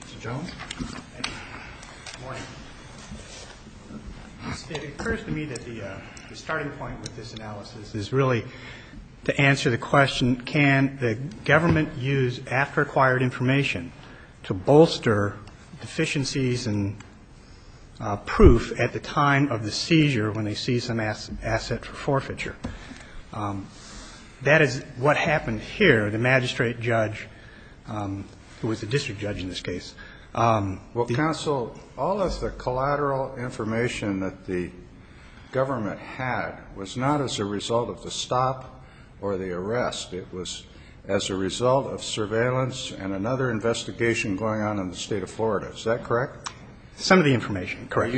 Mr. Jones. It occurs to me that the starting point with this analysis is really to answer the question, can the government use after-acquired information to bolster deficiencies in proof at the time of the seizure when they seize some asset for forfeiture? That is what happened here, the magistrate judge, who was the district judge in this case. Well, counsel, all of the collateral information that the government had was not as a result of the stop or the arrest. It was as a result of surveillance and another investigation going on in the state of Florida. Is that correct? Some of the information, correct.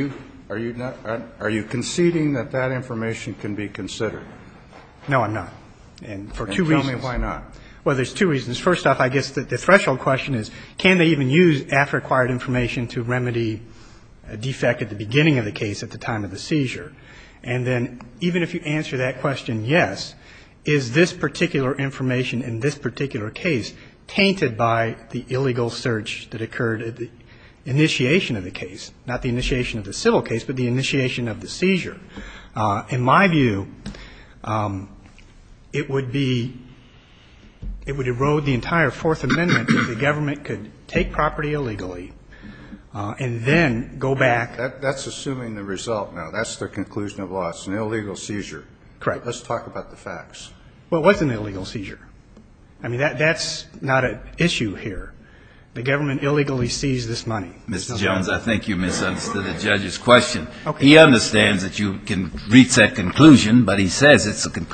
Are you conceding that that information can be considered? No, I'm not. And for two reasons. And tell me why not. Well, there's two reasons. First off, I guess the threshold question is, can they even use after-acquired information to remedy a defect at the beginning of the case at the time of the seizure? And then even if you answer that question yes, is this particular information in this particular case tainted by the illegal search that occurred at the initiation of the case, not the initiation of the civil case, but the initiation of the seizure? In my view, it would be, it would erode the entire Fourth Amendment if the government could take property illegally and then go back. That's assuming the result now. That's the conclusion of law. It's an illegal seizure. Correct. Let's talk about the facts. Well, it was an illegal seizure. I mean, that's not an issue here. The government illegally seized this money. Mr. Jones, I think you misunderstood the judge's question. Okay. He understands that you can reach that conclusion, but he says it's a,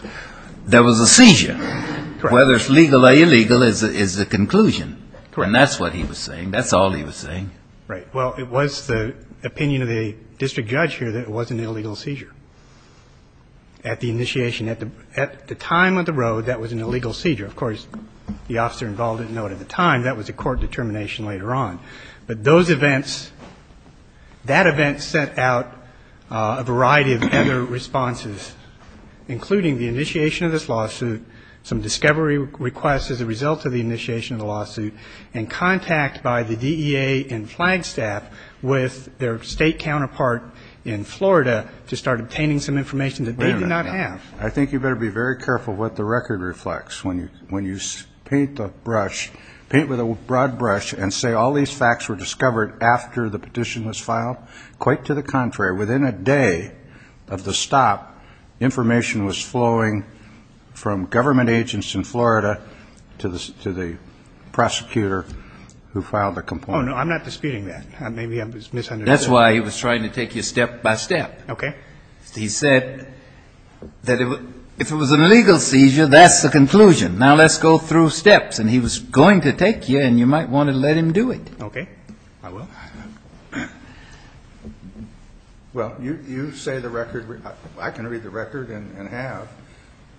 there was a seizure. Correct. Whether it's legal or illegal is the conclusion. Correct. And that's what he was saying. That's all he was saying. Right. Well, it was the opinion of the district judge here that it was an illegal seizure. At the initiation, at the time of the road, that was an illegal seizure. Of course, the officer involved didn't know it at the time. That was a court determination later on. But those events, that event sent out a variety of other responses, including the initiation of this lawsuit, some discovery requests as a result of the initiation of the lawsuit, and contact by the DEA and Flagstaff with their State counterpart in Florida to start obtaining some information that they did not have. I think you better be very careful what the record reflects. When you paint the brush, paint with a broad brush and say all these facts were discovered after the petition was filed, quite to the contrary. Within a day of the stop, information was flowing from government agents in Florida to the prosecutor who filed the complaint. Oh, no. I'm not disputing that. Maybe I misunderstood. That's why he was trying to take you step by step. Okay. He said that if it was an illegal seizure, that's the conclusion. Now let's go through steps. And he was going to take you, and you might want to let him do it. Okay. I will. Well, you say the record, I can read the record and have.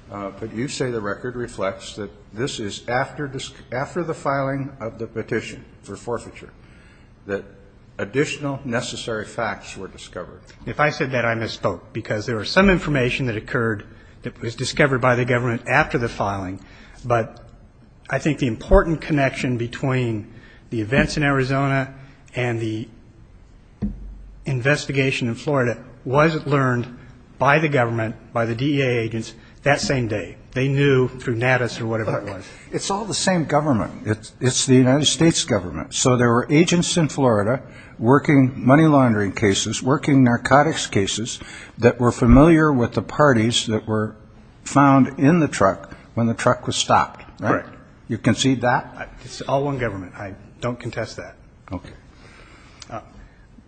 But you say the record reflects that this is after the filing of the petition for forfeiture, that additional necessary facts were discovered. If I said that, I misspoke, because there was some information that occurred that was discovered by the government after the filing. But I think the important connection between the events in Arizona and the investigation in Florida was learned by the government, by the DEA agents, that same day. They knew through NADIS or whatever it was. It's all the same government. It's the United States government. So there were agents in Florida working money laundering cases, working narcotics cases that were familiar with the parties that were found in the truck when the truck was stopped. Correct. You concede that? It's all one government. I don't contest that. Okay.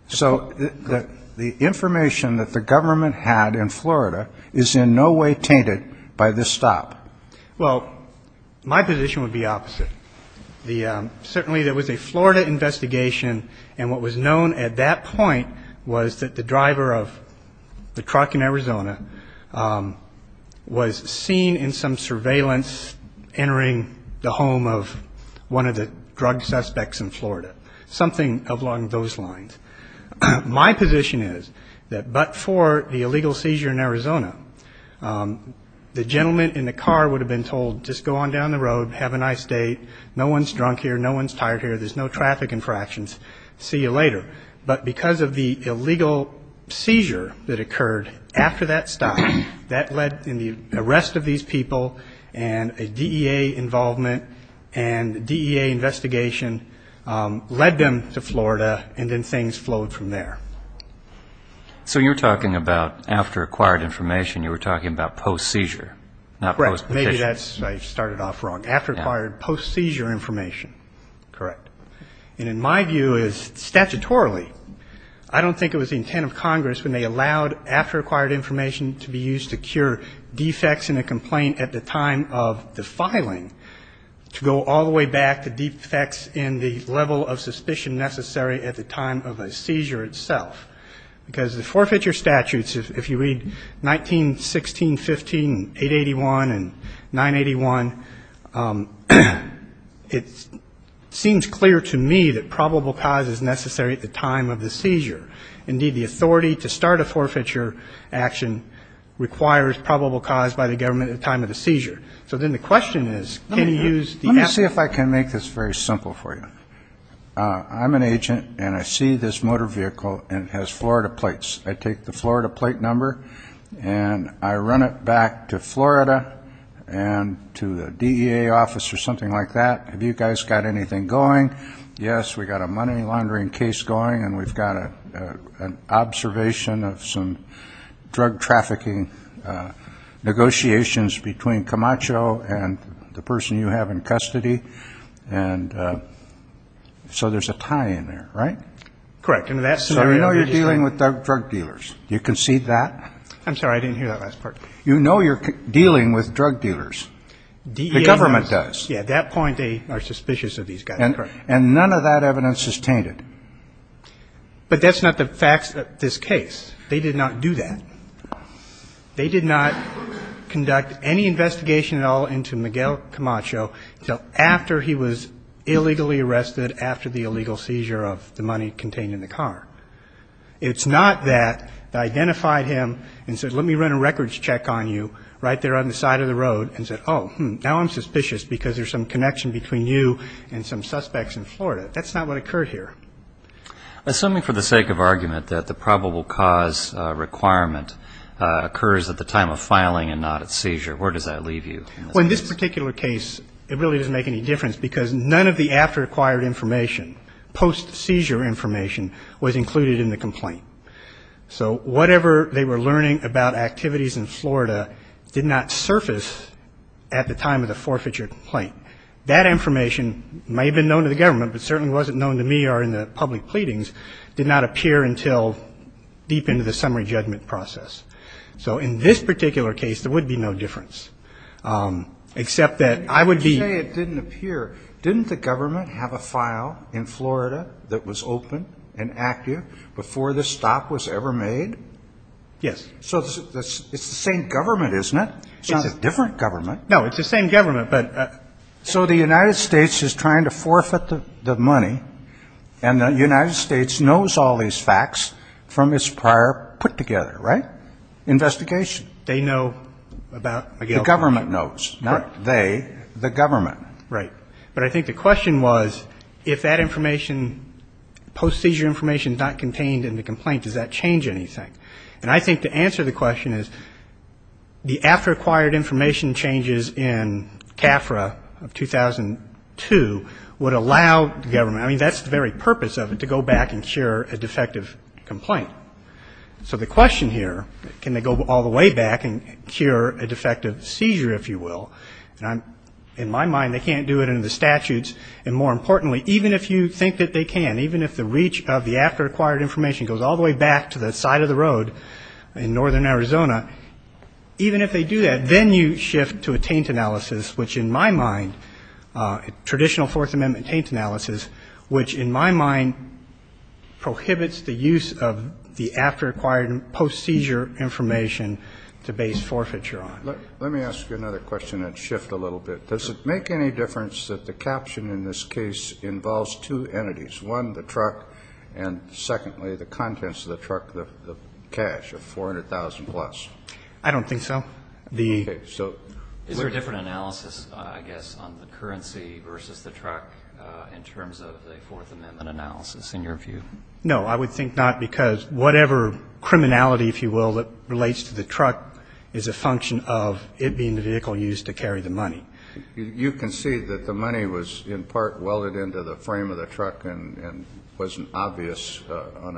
So the information that the government had in Florida is in no way tainted by this stop. Well, my position would be opposite. Certainly there was a Florida investigation, and what was known at that point was that the driver of the truck in Arizona was seen in some surveillance entering the home of one of the drug suspects in Florida, something along those lines. My position is that but for the illegal seizure in Arizona, the gentleman in the car would have been told just go on down the road, have a nice date, no one's drunk here, no one's tired here, there's no traffic infractions, see you later. But because of the illegal seizure that occurred after that stop, that led in the arrest of these people and a DEA involvement and DEA investigation led them to Florida and then things flowed from there. So you're talking about after acquired information, you were talking about post-seizure, not post-petition. Right. Maybe I started off wrong. After acquired, post-seizure information. Correct. And in my view, statutorily, I don't think it was the intent of Congress when they allowed after acquired information to be used to cure defects in a complaint at the time of the filing to go all the way back to defects in the level of suspicion necessary at the time of a seizure itself. Because the forfeiture statutes, if you read 1916, 15, 881 and 981, it seems clear to me that probable cause is necessary at the time of the seizure. Indeed, the authority to start a forfeiture action requires probable cause by the government at the time of the seizure. So then the question is, can you use the... Let me see if I can make this very simple for you. I'm an agent and I see this motor vehicle and it has Florida plates. I take the Florida plate number and I run it back to Florida and to the DEA office or something like that. Have you guys got anything going? Yes, we've got a money laundering case going and we've got an observation of some drug trafficking negotiations between Camacho and the person you have in custody. And so there's a tie in there, right? Correct. So you know you're dealing with drug dealers. Do you concede that? I'm sorry. I didn't hear that last part. You know you're dealing with drug dealers. The government does. Yeah, at that point they are suspicious of these guys. Correct. And none of that evidence is tainted. But that's not the facts of this case. They did not do that. They did not conduct any investigation at all into Miguel Camacho until after he was illegally arrested, after the illegal seizure of the money contained in the car. It's not that they identified him and said let me run a records check on you right there on the side of the road and said, oh, now I'm suspicious because there's some connection between you and some suspects in Florida. That's not what occurred here. Assuming for the sake of argument that the probable cause requirement occurs at the time of filing and not at seizure, where does that leave you in this case? Well, in this particular case it really doesn't make any difference because none of the after-acquired information, post-seizure information, was included in the complaint. So whatever they were learning about activities in Florida did not surface at the time of the forfeiture complaint. That information may have been known to the government but certainly wasn't known to me or in the public pleadings, did not appear until deep into the summary judgment process. So in this particular case there would be no difference, except that I would be ---- You say it didn't appear. Didn't the government have a file in Florida that was open and active before this stop was ever made? Yes. So it's the same government, isn't it? It's not a different government. No, it's the same government, but ---- So the United States is trying to forfeit the money and the United States knows all these facts from its prior put-together, right, investigation? They know about Miguel's complaint. The government knows, not they, the government. Right. But I think the question was if that information, post-seizure information, is not contained in the complaint, does that change anything? And I think to answer the question is the after-acquired information changes in CAFRA of 2002 would allow the government, I mean, that's the very purpose of it, to go back and cure a defective complaint. So the question here, can they go all the way back and cure a defective seizure, if you will? And in my mind they can't do it under the statutes, and more importantly, even if you think that they can, even if the reach of the after-acquired information goes all the way back to the side of the road in northern Arizona, even if they do that, then you shift to a taint analysis, which in my mind, traditional Fourth Amendment taint analysis, which in my mind prohibits the use of the after-acquired and post-seizure information to base forfeiture on. Let me ask you another question and shift a little bit. Does it make any difference that the caption in this case involves two entities, one, the truck, and secondly, the contents of the truck, the cash of $400,000 plus? I don't think so. Is there a different analysis, I guess, on the currency versus the truck in terms of the Fourth Amendment analysis in your view? No, I would think not, because whatever criminality, if you will, that relates to the truck is a function of it being the vehicle used to carry the money. You can see that the money was in part welded into the frame of the truck and wasn't obvious on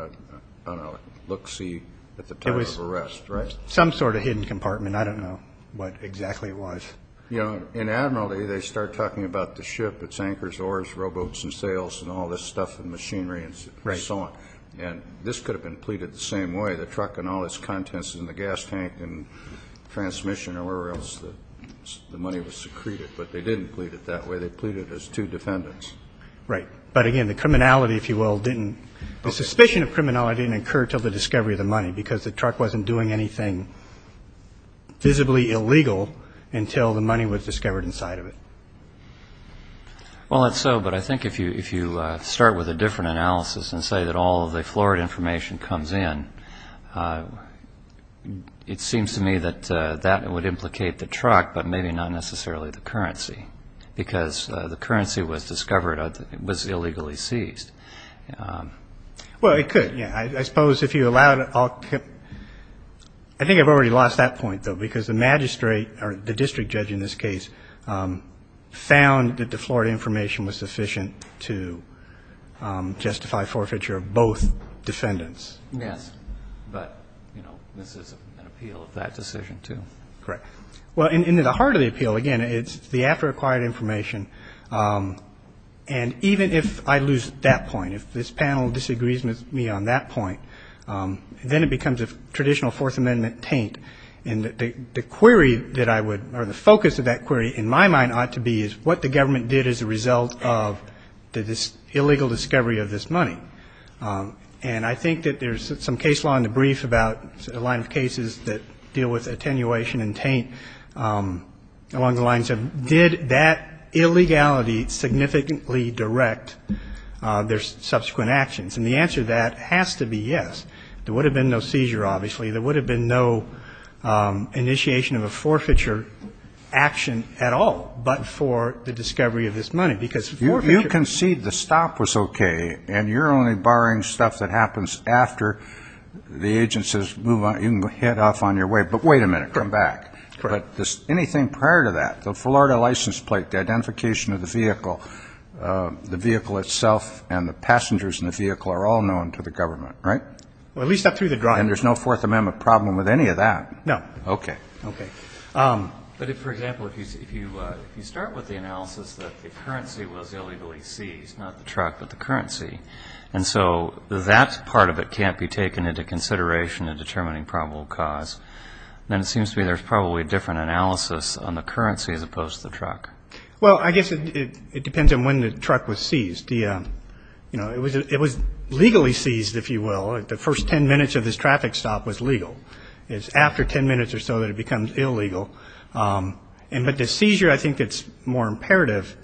a look-see at the time of arrest, right? It was some sort of hidden compartment. I don't know what exactly it was. In Admiralty, they start talking about the ship, its anchors, oars, rowboats and sails and all this stuff and machinery and so on. And this could have been pleaded the same way, the truck and all its contents in the gas tank and transmission or wherever else the money was secreted. But they didn't plead it that way. They pleaded as two defendants. Right. But again, the criminality, if you will, didn't – the suspicion of criminality didn't occur until the discovery of the money because the truck wasn't doing anything visibly illegal until the money was discovered inside of it. Well, not so, but I think if you start with a different analysis and say that all of the florid information comes in, it seems to me that that would implicate the truck but maybe not necessarily the currency because the currency was discovered – was illegally seized. Well, it could, yeah. I suppose if you allow it, I'll – I think I've already lost that point, though, because the magistrate or the district judge in this case found that the florid information was sufficient to justify forfeiture of both defendants. Yes. But, you know, this is an appeal of that decision, too. Correct. Well, in the heart of the appeal, again, it's the after-acquired information. And even if I lose that point, if this panel disagrees with me on that point, then it becomes a traditional Fourth Amendment taint. And the query that I would – or the focus of that query, in my mind, ought to be is what the government did as a result of this illegal discovery of this money. And I think that there's some case law in the brief about a line of cases that deal with attenuation and taint along the lines of did that illegality significantly direct their subsequent actions. And the answer to that has to be yes. There would have been no seizure, obviously. There would have been no initiation of a forfeiture action at all but for the discovery of this money. You concede the stop was okay, and you're only barring stuff that happens after the agent says you can head off on your way. But wait a minute. Come back. But anything prior to that, the Florida license plate, the identification of the vehicle, the vehicle itself and the passengers in the vehicle are all known to the government, right? Well, at least up through the drive. And there's no Fourth Amendment problem with any of that? No. Okay. Okay. But, for example, if you start with the analysis that the currency was illegally seized, not the truck but the currency, and so that part of it can't be taken into consideration in determining probable cause, then it seems to me there's probably a different analysis on the currency as opposed to the truck. Well, I guess it depends on when the truck was seized. You know, it was legally seized, if you will. The first 10 minutes of this traffic stop was legal. It's after 10 minutes or so that it becomes illegal. But the seizure, I think, that's more imperative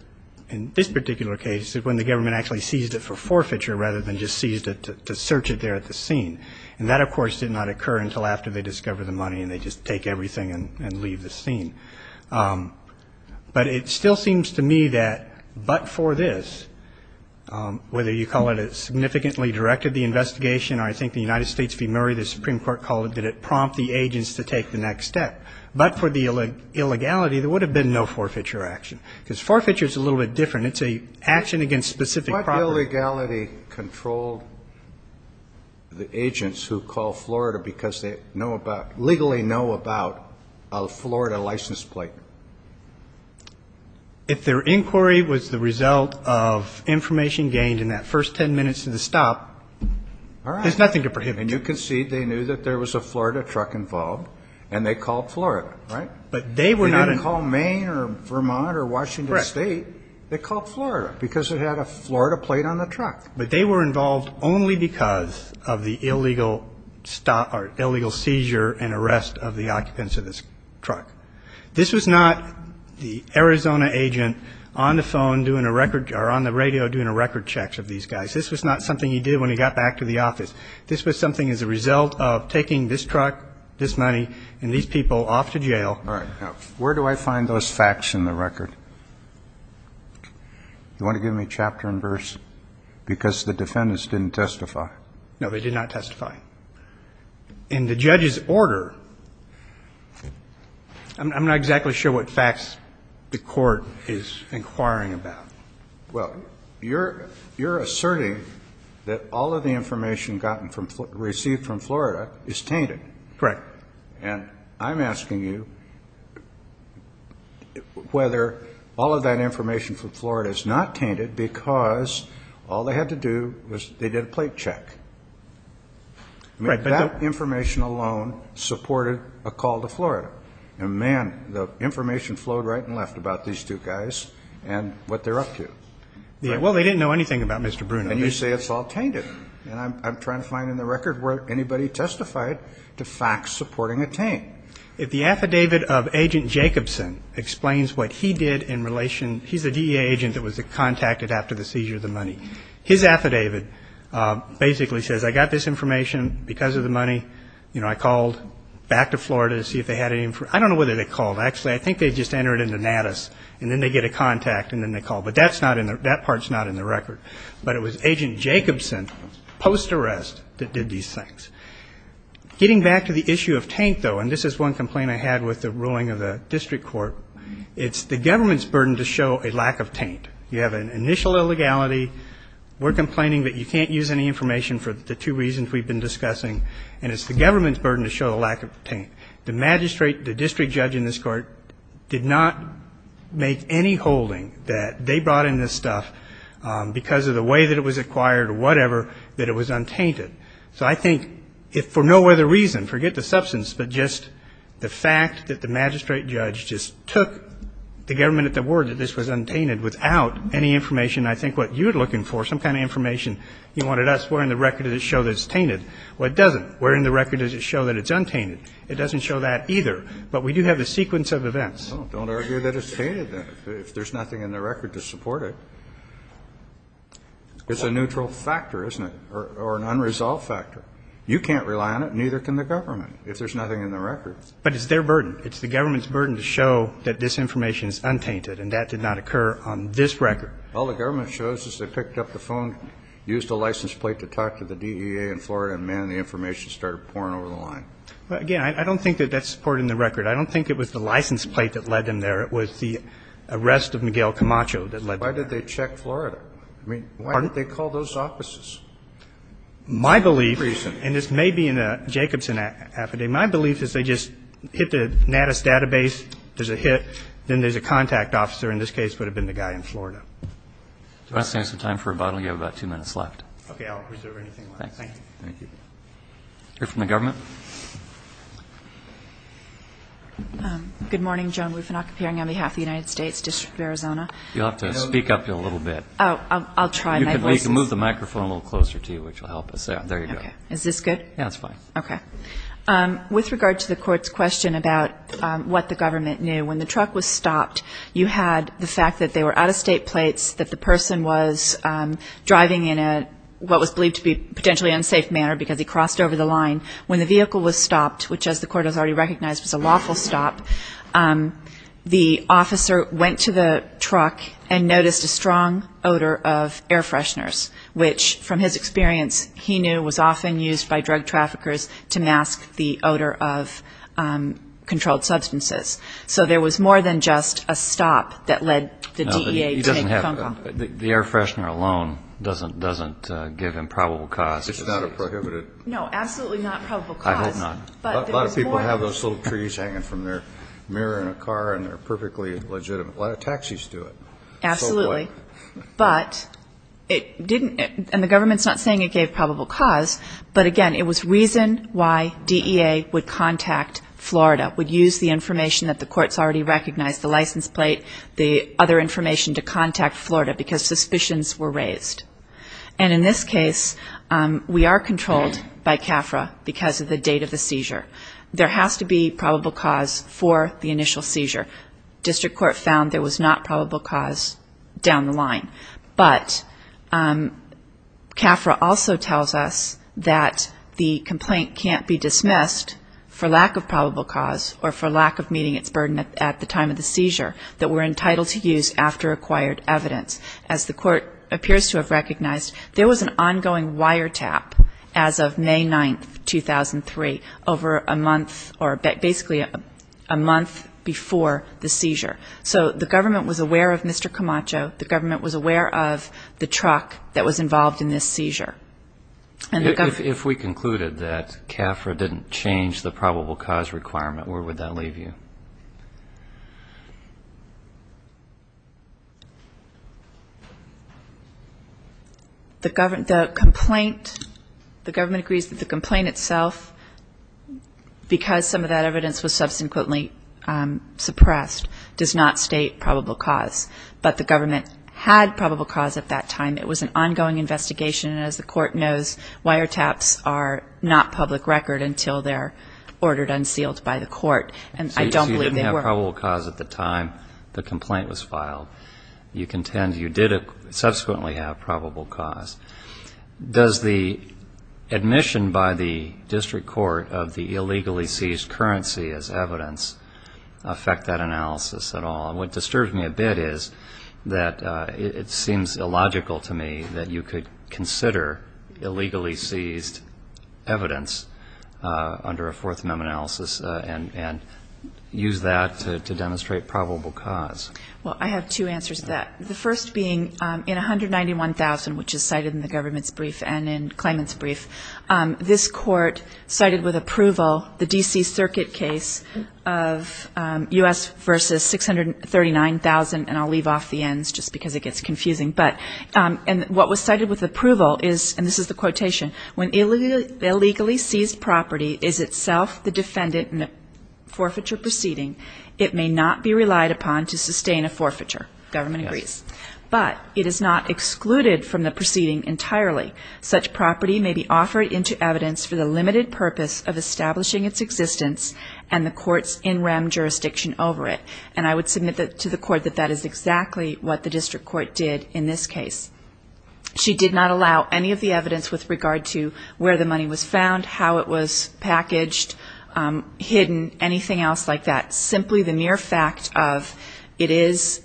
in this particular case is when the government actually seized it for forfeiture rather than just seized it to search it there at the scene. And that, of course, did not occur until after they discovered the money and they just take everything and leave the scene. But it still seems to me that but for this, whether you call it it significantly directed the investigation or I think the United States v. Murray, the Supreme Court called it, did it prompt the agents to take the next step. But for the illegality, there would have been no forfeiture action because forfeiture is a little bit different. It's an action against specific property. What illegality controlled the agents who call Florida because they know about legally know about a Florida license plate? If their inquiry was the result of information gained in that first 10 minutes of the stop, there's nothing to prohibit you. All right. And you can see they knew that there was a Florida truck involved and they called Florida, right? But they were not in. They didn't call Maine or Vermont or Washington State. Correct. They called Florida because it had a Florida plate on the truck. But they were involved only because of the illegal seizure and arrest of the occupants of this truck. This was not the Arizona agent on the phone doing a record or on the radio doing a record check of these guys. This was not something he did when he got back to the office. This was something as a result of taking this truck, this money, and these people off to jail. All right. Now, where do I find those facts in the record? Do you want to give me chapter and verse? Because the defendants didn't testify. No, they did not testify. In the judge's order, I'm not exactly sure what facts the court is inquiring about. Well, you're asserting that all of the information received from Florida is tainted. Correct. And I'm asking you whether all of that information from Florida is not tainted because all they had to do was they did a plate check. That information alone supported a call to Florida. And, man, the information flowed right and left about these two guys and what they're up to. Well, they didn't know anything about Mr. Bruno. And you say it's all tainted. And I'm trying to find in the record where anybody testified to facts supporting a taint. The affidavit of Agent Jacobson explains what he did in relation... He's a DEA agent that was contacted after the seizure of the money. His affidavit basically says, I got this information because of the money. You know, I called back to Florida to see if they had any... I don't know whether they called. Actually, I think they just entered an anatus, and then they get a contact, and then they call. But that part's not in the record. But it was Agent Jacobson, post-arrest, that did these things. Getting back to the issue of taint, though, and this is one complaint I had with the ruling of the district court, it's the government's burden to show a lack of taint. You have an initial illegality. We're complaining that you can't use any information for the two reasons we've been discussing, and it's the government's burden to show a lack of taint. The magistrate, the district judge in this court, did not make any holding that they brought in this stuff because of the way that it was acquired or whatever, that it was untainted. So I think if for no other reason, forget the substance, but just the fact that the magistrate judge just took the government at the word that this was untainted without any information I think what you're looking for, Well, it doesn't. Where in the record does it show that it's untainted? It doesn't show that either. But we do have a sequence of events. Well, don't argue that it's tainted, then, if there's nothing in the record to support it. It's a neutral factor, isn't it, or an unresolved factor. You can't rely on it, and neither can the government, if there's nothing in the record. But it's their burden. It's the government's burden to show that this information is untainted, and that did not occur on this record. All the government shows is they picked up the phone, used the license plate to talk to the DEA in Florida, and, man, the information started pouring over the line. But, again, I don't think that that's supporting the record. I don't think it was the license plate that led them there. It was the arrest of Miguel Camacho that led them there. Why did they check Florida? I mean, why didn't they call those offices? My belief, and this may be in a Jacobson affidavit, my belief is they just hit the Natus database, there's a hit, then there's a contact officer. In this case, it would have been the guy in Florida. Do you want to save some time for rebuttal? You have about two minutes left. Okay. I'll reserve anything left. Thank you. Thank you. You're from the government? Good morning. Joan Wufanok, appearing on behalf of the United States District of Arizona. You'll have to speak up a little bit. Oh, I'll try my best. You can move the microphone a little closer to you, which will help us. There you go. Okay. Is this good? Yeah, it's fine. Okay. With regard to the court's question about what the government knew, when the truck was stopped, you had the fact that they were out-of-state plates, that the person was driving in what was believed to be potentially unsafe manner because he crossed over the line. When the vehicle was stopped, which as the court has already recognized was a lawful stop, the officer went to the truck and noticed a strong odor of air fresheners, which, from his experience, he knew was often used by drug traffickers to mask the odor of controlled substances. So there was more than just a stop that led the DEA to make a phone call. The air freshener alone doesn't give him probable cause. It's not a prohibited. No, absolutely not probable cause. I hope not. A lot of people have those little trees hanging from their mirror in a car and they're perfectly legitimate. A lot of taxis do it. Absolutely. But it didn't, and the government's not saying it gave probable cause, but, again, it was reason why DEA would contact Florida, would use the information that the court's already recognized, the license plate, the other information to contact Florida, because suspicions were raised. And in this case, we are controlled by CAFRA because of the date of the seizure. There has to be probable cause for the initial seizure. District court found there was not probable cause down the line. But CAFRA also tells us that the complaint can't be dismissed for lack of probable cause or for lack of meeting its burden at the time of the seizure that we're entitled to use after acquired evidence. As the court appears to have recognized, there was an ongoing wiretap as of May 9, 2003, over a month or basically a month before the seizure. So the government was aware of Mr. Camacho. The government was aware of the truck that was involved in this seizure. If we concluded that CAFRA didn't change the probable cause requirement, where would that leave you? The complaint, the government agrees that the complaint itself, because some of that evidence was subsequently suppressed, does not state probable cause. But the government had probable cause at that time. It was an ongoing investigation. And as the court knows, wiretaps are not public record until they're ordered unsealed by the court. And I don't believe they were. So you didn't have probable cause at the time the complaint was filed. You contend you did subsequently have probable cause. Does the admission by the district court of the illegally seized currency as evidence affect that analysis at all? And what disturbs me a bit is that it seems illogical to me that you could consider illegally seized evidence under a Fourth Amendment analysis and use that to demonstrate probable cause. Well, I have two answers to that. The first being in 191,000, which is cited in the government's brief and in Clayman's brief, this court cited with approval the D.C. Circuit case of U.S. v. 639,000. And I'll leave off the Ns just because it gets confusing. When illegally seized property is itself the defendant in a forfeiture proceeding, it may not be relied upon to sustain a forfeiture, government agrees. But it is not excluded from the proceeding entirely. Such property may be offered into evidence for the limited purpose of establishing its existence and the court's in rem jurisdiction over it. And I would submit to the court that that is exactly what the district court did in this case. She did not allow any of the evidence with regard to where the money was found, how it was packaged, hidden, anything else like that, simply the mere fact of it is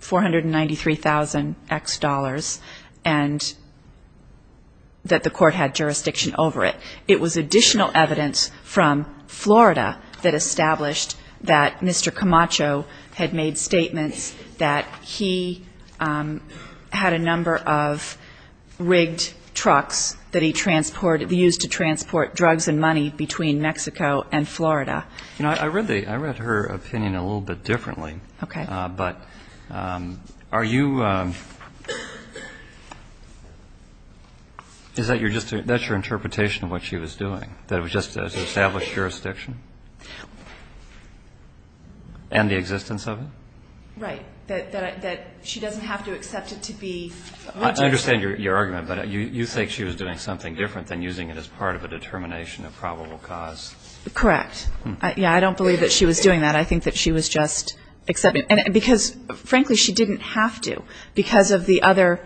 $493,000 X dollars and that the court had jurisdiction over it. It was additional evidence from Florida that established that Mr. Camacho had made statements that he had a number of rigged trucks that he transported to use to transport drugs and money between Mexico and Florida. I read her opinion a little bit differently. Okay. But are you, is that your interpretation of what she was doing, that it was just to establish jurisdiction? And the existence of it? Right. That she doesn't have to accept it to be. I understand your argument. But you think she was doing something different than using it as part of a determination of probable cause. Correct. Yeah. I don't believe that she was doing that. I think that she was just accepting it. And because, frankly, she didn't have to because of the other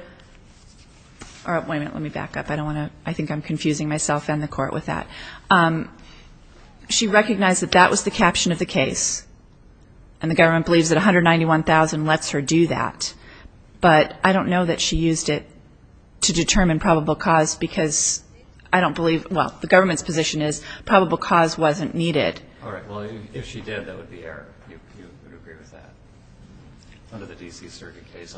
or wait a minute, let me back up. I don't want to, I think I'm confusing myself and the court with that. She recognized that that was the caption of the case. And the government believes that $191,000 lets her do that. But I don't know that she used it to determine probable cause because I don't believe, well, the government's position is probable cause wasn't needed. All right. Well, if she did, that would be error. You would agree with that? Under the D.C. Circuit case?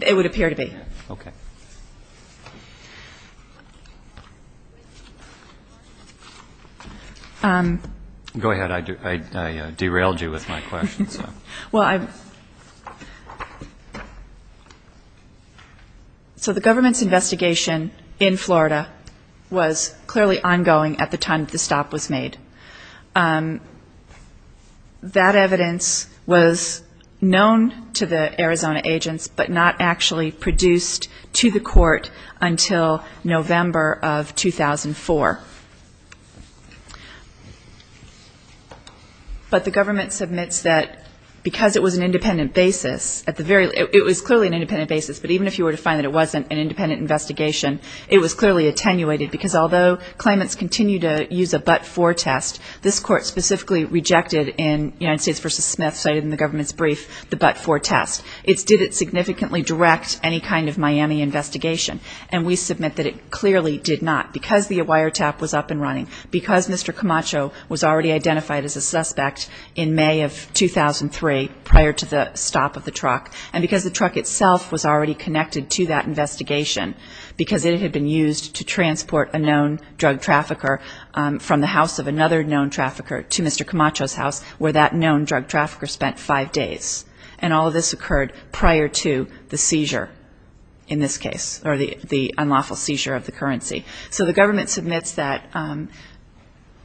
It would appear to be. Okay. Go ahead. I derailed you with my question. Well, I'm so the government's investigation in Florida was clearly ongoing at the time the stop was made. That evidence was known to the Arizona agents, but not actually produced to the court until November of 2004. But the government submits that because it was an independent basis, it was clearly an independent basis, but even if you were to find that it wasn't an independent investigation, it was clearly attenuated because although claimants continue to use a but-for test, this court specifically rejected in United States v. Smith, cited in the government's brief, the but-for test. It did it significantly direct any kind of Miami investigation, and we submit that it clearly did not because the wiretap was up and running, because Mr. Camacho was already identified as a suspect in May of 2003 prior to the stop of the truck, and because the truck itself was already connected to that investigation because it had been used to transport a known drug trafficker from the house of another known trafficker to Mr. Camacho's house where that known drug trafficker spent five days. And all of this occurred prior to the seizure in this case, or the unlawful seizure of the currency. So the government submits that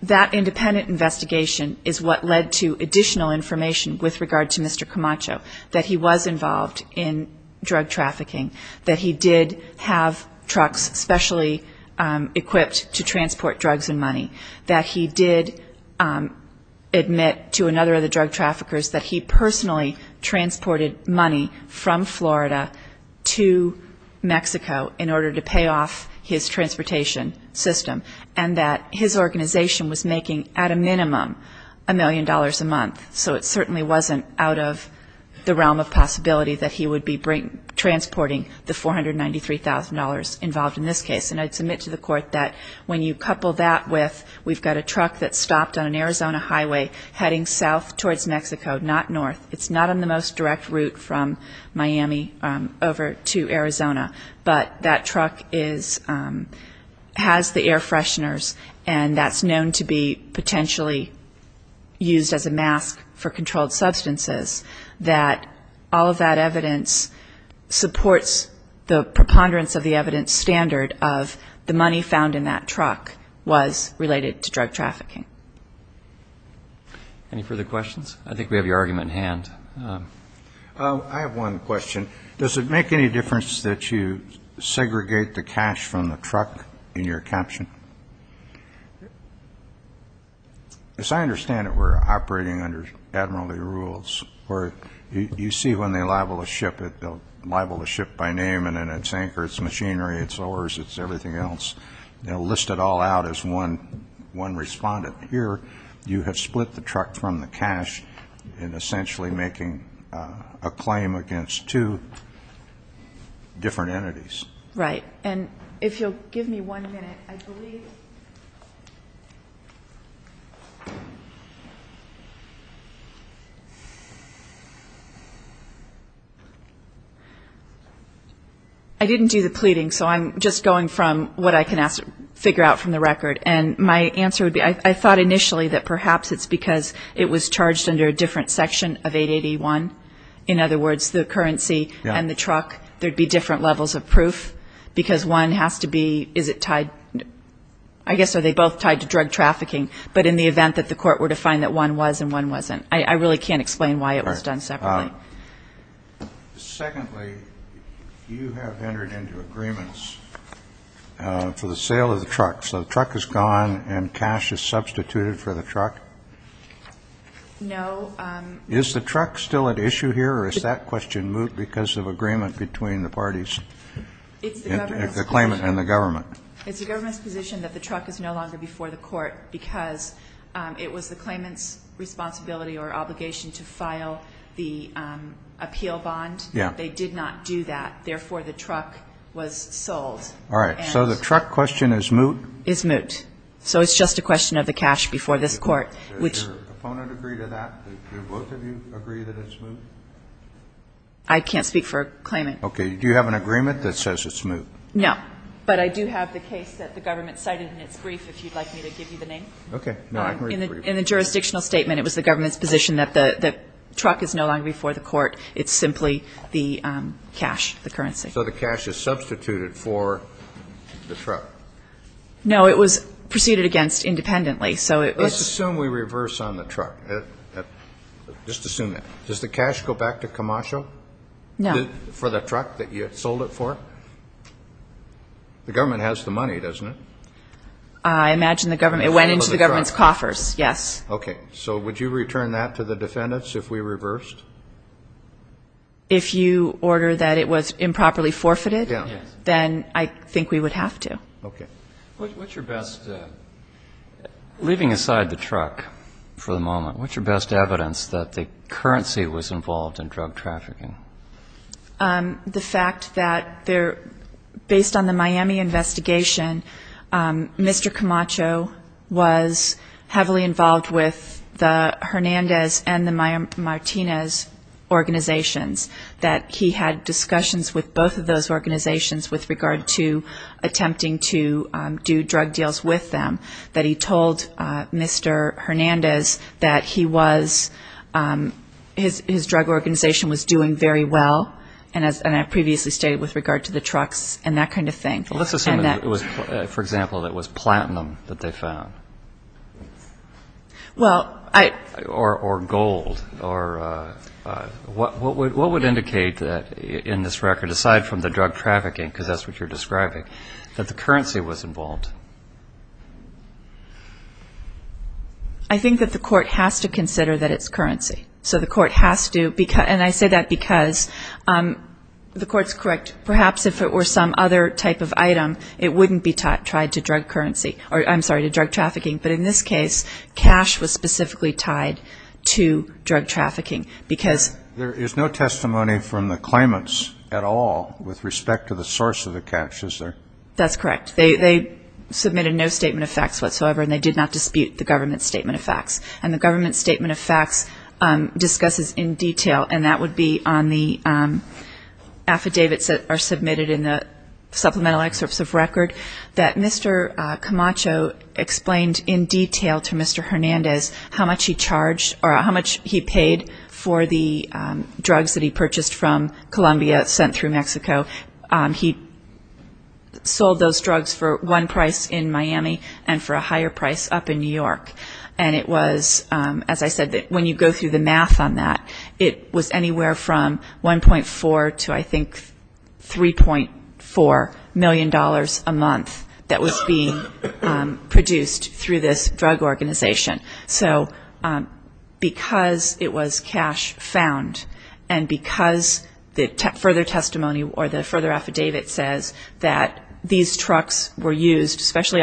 that independent investigation is what led to additional information with regard to Mr. Camacho, that he was involved in drug trafficking, that he did have trucks specially equipped to transport drugs and money, that he did admit to another of the drug traffickers that he personally transported money from Florida to Mexico in order to pay off his transportation system, and that his organization was making at a minimum a million dollars a month. So it certainly wasn't out of the realm of possibility that he would be transporting the $493,000 involved in this case. And I'd submit to the court that when you couple that with we've got a truck that's stopped on an Arizona highway heading south towards Mexico, not north. It's not on the most direct route from Miami over to Arizona. But that truck has the air fresheners, and that's known to be potentially used as a mask for controlled substances, that all of that evidence supports the preponderance of the evidence standard of the money found in that truck was related to drug trafficking. Any further questions? I think we have your argument in hand. I have one question. Does it make any difference that you segregate the cash from the truck in your caption? As I understand it, we're operating under admiralty rules, where you see when they libel a ship, they'll libel the ship by name, and then its anchor, its machinery, its oars, its everything else. They'll list it all out as one respondent. Here, you have split the truck from the cash in essentially making a claim against two different entities. Right. And if you'll give me one minute, I believe... I didn't do the pleading, so I'm just going from what I can figure out from the record. And my answer would be I thought initially that perhaps it's because it was charged under a different section of 881. In other words, the currency and the truck, there would be different levels of proof, because one has to be, is it tied, I guess are they both tied to drug trafficking, but in the event that the court were to find that one was and one wasn't. I really can't explain why it was done separately. Secondly, you have entered into agreements for the sale of the truck, so the truck is gone and cash is substituted for the truck? No. Is the truck still at issue here or is that question moot because of agreement between the parties? It's the government's position. The claimant and the government. It's the government's position that the truck is no longer before the court because it was the claimant's responsibility or obligation to file the appeal bond. Yeah. They did not do that. Therefore, the truck was sold. All right. So the truck question is moot? Is moot. So it's just a question of the cash before this court, which... Do both of you agree that it's moot? I can't speak for a claimant. Okay. Do you have an agreement that says it's moot? No, but I do have the case that the government cited in its brief, if you'd like me to give you the name. Okay. In the jurisdictional statement, it was the government's position that the truck is no longer before the court. It's simply the cash, the currency. So the cash is substituted for the truck? No, it was proceeded against independently. Let's assume we reverse on the truck. Just assume that. Does the cash go back to Camacho? No. For the truck that you sold it for? The government has the money, doesn't it? I imagine the government. It went into the government's coffers, yes. Okay. So would you return that to the defendants if we reversed? If you order that it was improperly forfeited, then I think we would have to. Okay. What's your best, leaving aside the truck for the moment, what's your best evidence that the currency was involved in drug trafficking? The fact that based on the Miami investigation, Mr. Camacho was heavily involved with the Hernandez and the Martinez organizations, that he had discussions with both of those organizations with regard to do drug deals with them, that he told Mr. Hernandez that he was, his drug organization was doing very well, and I previously stated with regard to the trucks and that kind of thing. Let's assume, for example, that it was platinum that they found. Well, I ---- Or gold. What would indicate that in this record, aside from the drug trafficking, because that's what you're describing, that the currency was involved? I think that the court has to consider that it's currency. So the court has to, and I say that because the court's correct, perhaps if it were some other type of item, it wouldn't be tied to drug currency, or I'm sorry, to drug trafficking. But in this case, cash was specifically tied to drug trafficking because ---- There is no testimony from the claimants at all with respect to the source of the cash, is there? That's correct. They submitted no statement of facts whatsoever, and they did not dispute the government's statement of facts. And the government's statement of facts discusses in detail, and that would be on the affidavits that are submitted in the supplemental excerpts of record, that Mr. Camacho explained in detail to Mr. Hernandez how much he charged for the drugs that he purchased from Colombia sent through Mexico. He sold those drugs for one price in Miami and for a higher price up in New York. And it was, as I said, when you go through the math on that, it was anywhere from $1.4 to I think $3.4 million a month that was being produced through this drug organization. So because it was cash found and because the further testimony or the further affidavit says that these trucks were used, specially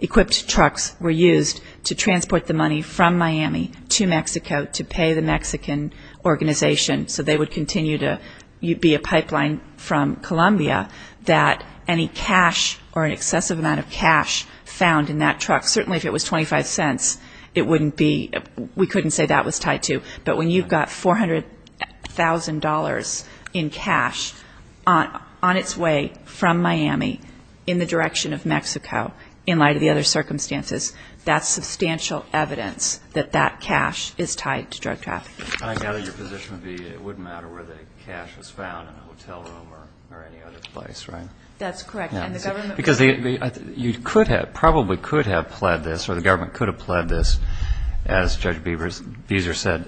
equipped trucks were used to transport the money from Miami to Mexico to pay the Mexican organization so they would continue to be a pipeline from Colombia, that any cash or an excessive amount of cash found in that truck, certainly if it was $0.25, it wouldn't be, we couldn't say that was tied to, but when you've got $400,000 in cash on its way from Miami in the direction of Mexico, in light of the other circumstances, that's substantial evidence that that cash is tied to drug trafficking. I gather your position would be it wouldn't matter where the cash was found, in a hotel room or any other place, right? That's correct. Because you probably could have pled this or the government could have pled this, as Judge Beezer said,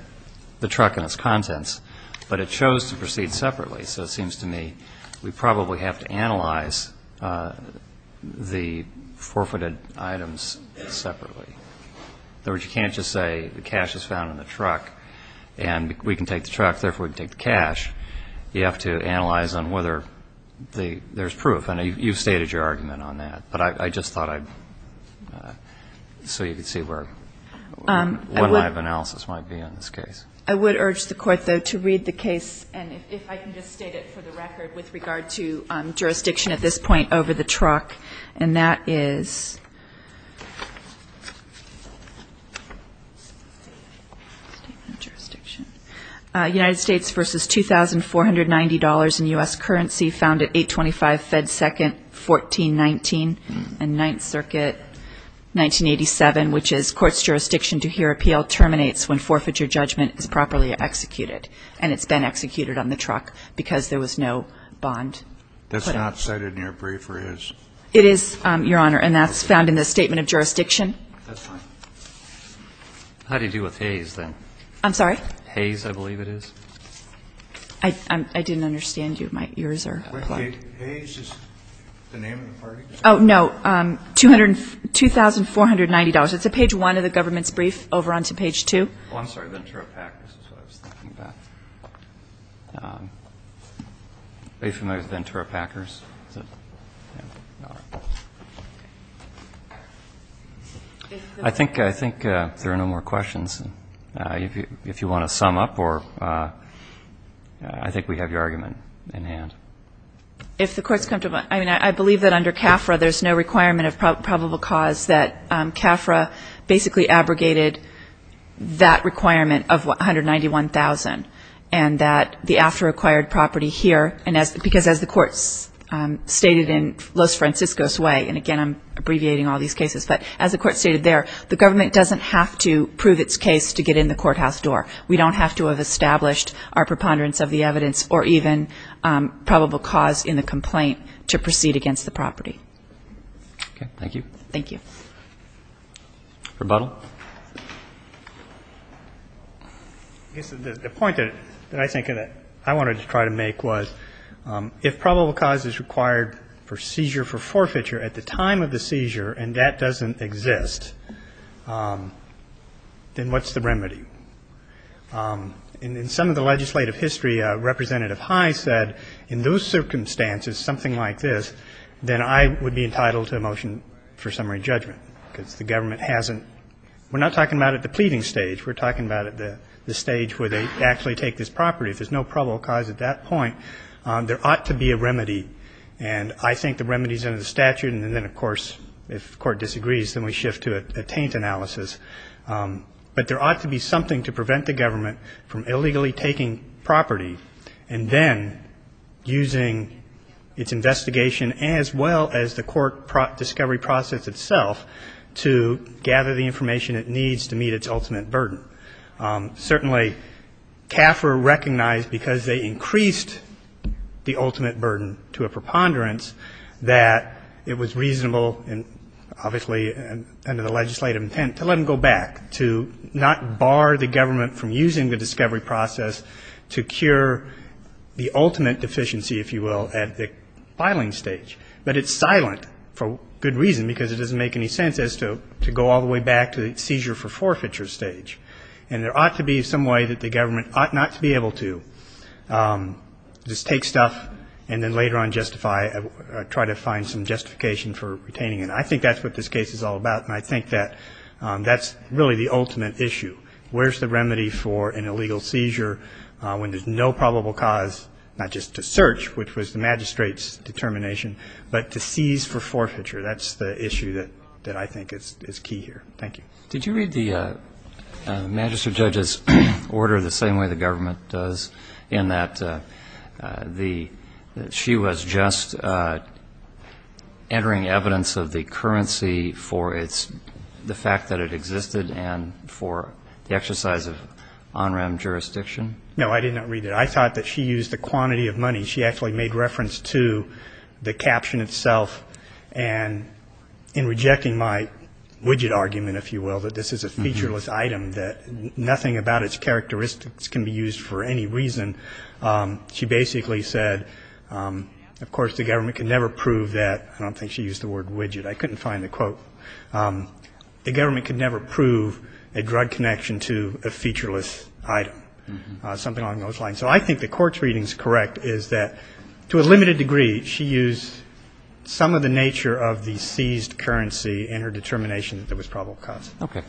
the truck and its contents, but it chose to proceed separately. So it seems to me we probably have to analyze the forfeited items separately. In other words, you can't just say the cash is found in the truck and we can take the truck, therefore we can take the cash. You have to analyze on whether there's proof. And you've stated your argument on that, but I just thought I'd, so you could see where, what my analysis might be on this case. I would urge the Court, though, to read the case, and if I can just state it for the record with regard to jurisdiction at this point over the truck, and that is United States versus $2,490 in U.S. currency found at 825 Fed 2nd, 1419, and Ninth Circuit, 1987, which is, court's jurisdiction to hear appeal terminates when forfeiture judgment is properly executed. And it's been executed on the truck because there was no bond. That's not cited in your brief, or is? It is, Your Honor, and that's found in the statement of jurisdiction. That's fine. How do you deal with Hayes, then? I'm sorry? Hayes, I believe it is. I didn't understand you. My ears are plugged. Wait. Hayes is the name of the party? Oh, no. $2,490. It's at page 1 of the government's brief, over onto page 2. Oh, I'm sorry. Ventura Pack. This is what I was thinking about. Are you familiar with Ventura Packers? I think there are no more questions. If you want to sum up, or I think we have your argument in hand. If the Court's comfortable, I mean, I believe that under CAFRA, there's no requirement of probable cause, that CAFRA basically abrogated that requirement of $191,000. And that the after-acquired property here, because as the Court stated in Los Francisco's way, and again I'm abbreviating all these cases, but as the Court stated there, the government doesn't have to prove its case to get in the courthouse door. We don't have to have established our preponderance of the evidence or even probable cause in the complaint to proceed against the property. Okay. Thank you. Thank you. Rebuttal. Well, I guess the point that I think that I wanted to try to make was if probable cause is required for seizure for forfeiture at the time of the seizure and that doesn't exist, then what's the remedy? In some of the legislative history, Representative High said in those circumstances, something like this, then I would be entitled to a motion for summary judgment because the government hasn't we're not talking about at the pleading stage. We're talking about at the stage where they actually take this property. If there's no probable cause at that point, there ought to be a remedy. And I think the remedy is under the statute. And then, of course, if the Court disagrees, then we shift to a taint analysis. But there ought to be something to prevent the government from illegally taking property and then using its investigation as well as the court discovery process itself to gather the information it needs to meet its ultimate burden. Certainly, CAFR recognized because they increased the ultimate burden to a preponderance that it was reasonable and obviously under the legislative intent to let them go back, to not bar the government from using the discovery process to cure the ultimate deficiency, if you will, at the filing stage. But it's silent for good reason because it doesn't make any sense as to go all the way back to the seizure for forfeiture stage. And there ought to be some way that the government ought not to be able to just take stuff and then later on justify or try to find some justification for retaining it. I think that's what this case is all about, and I think that that's really the ultimate issue. Where's the remedy for an illegal seizure when there's no probable cause not just to search, which was the magistrate's determination, but to seize for forfeiture? That's the issue that I think is key here. Thank you. Did you read the magistrate judge's order the same way the government does, in that she was just entering evidence of the currency for the fact that it existed and for the exercise of on-rem jurisdiction? No, I did not read it. I thought that she used the quantity of money. She actually made reference to the caption itself, and in rejecting my widget argument, if you will, that this is a featureless item, that nothing about its characteristics can be used for any reason, she basically said, of course, the government could never prove that. I don't think she used the word widget. I couldn't find the quote. The government could never prove a drug connection to a featureless item, something along those lines. So I think the court's reading is correct, is that, to a limited degree, she used some of the nature of the seized currency in her determination that there was probable cause. Okay.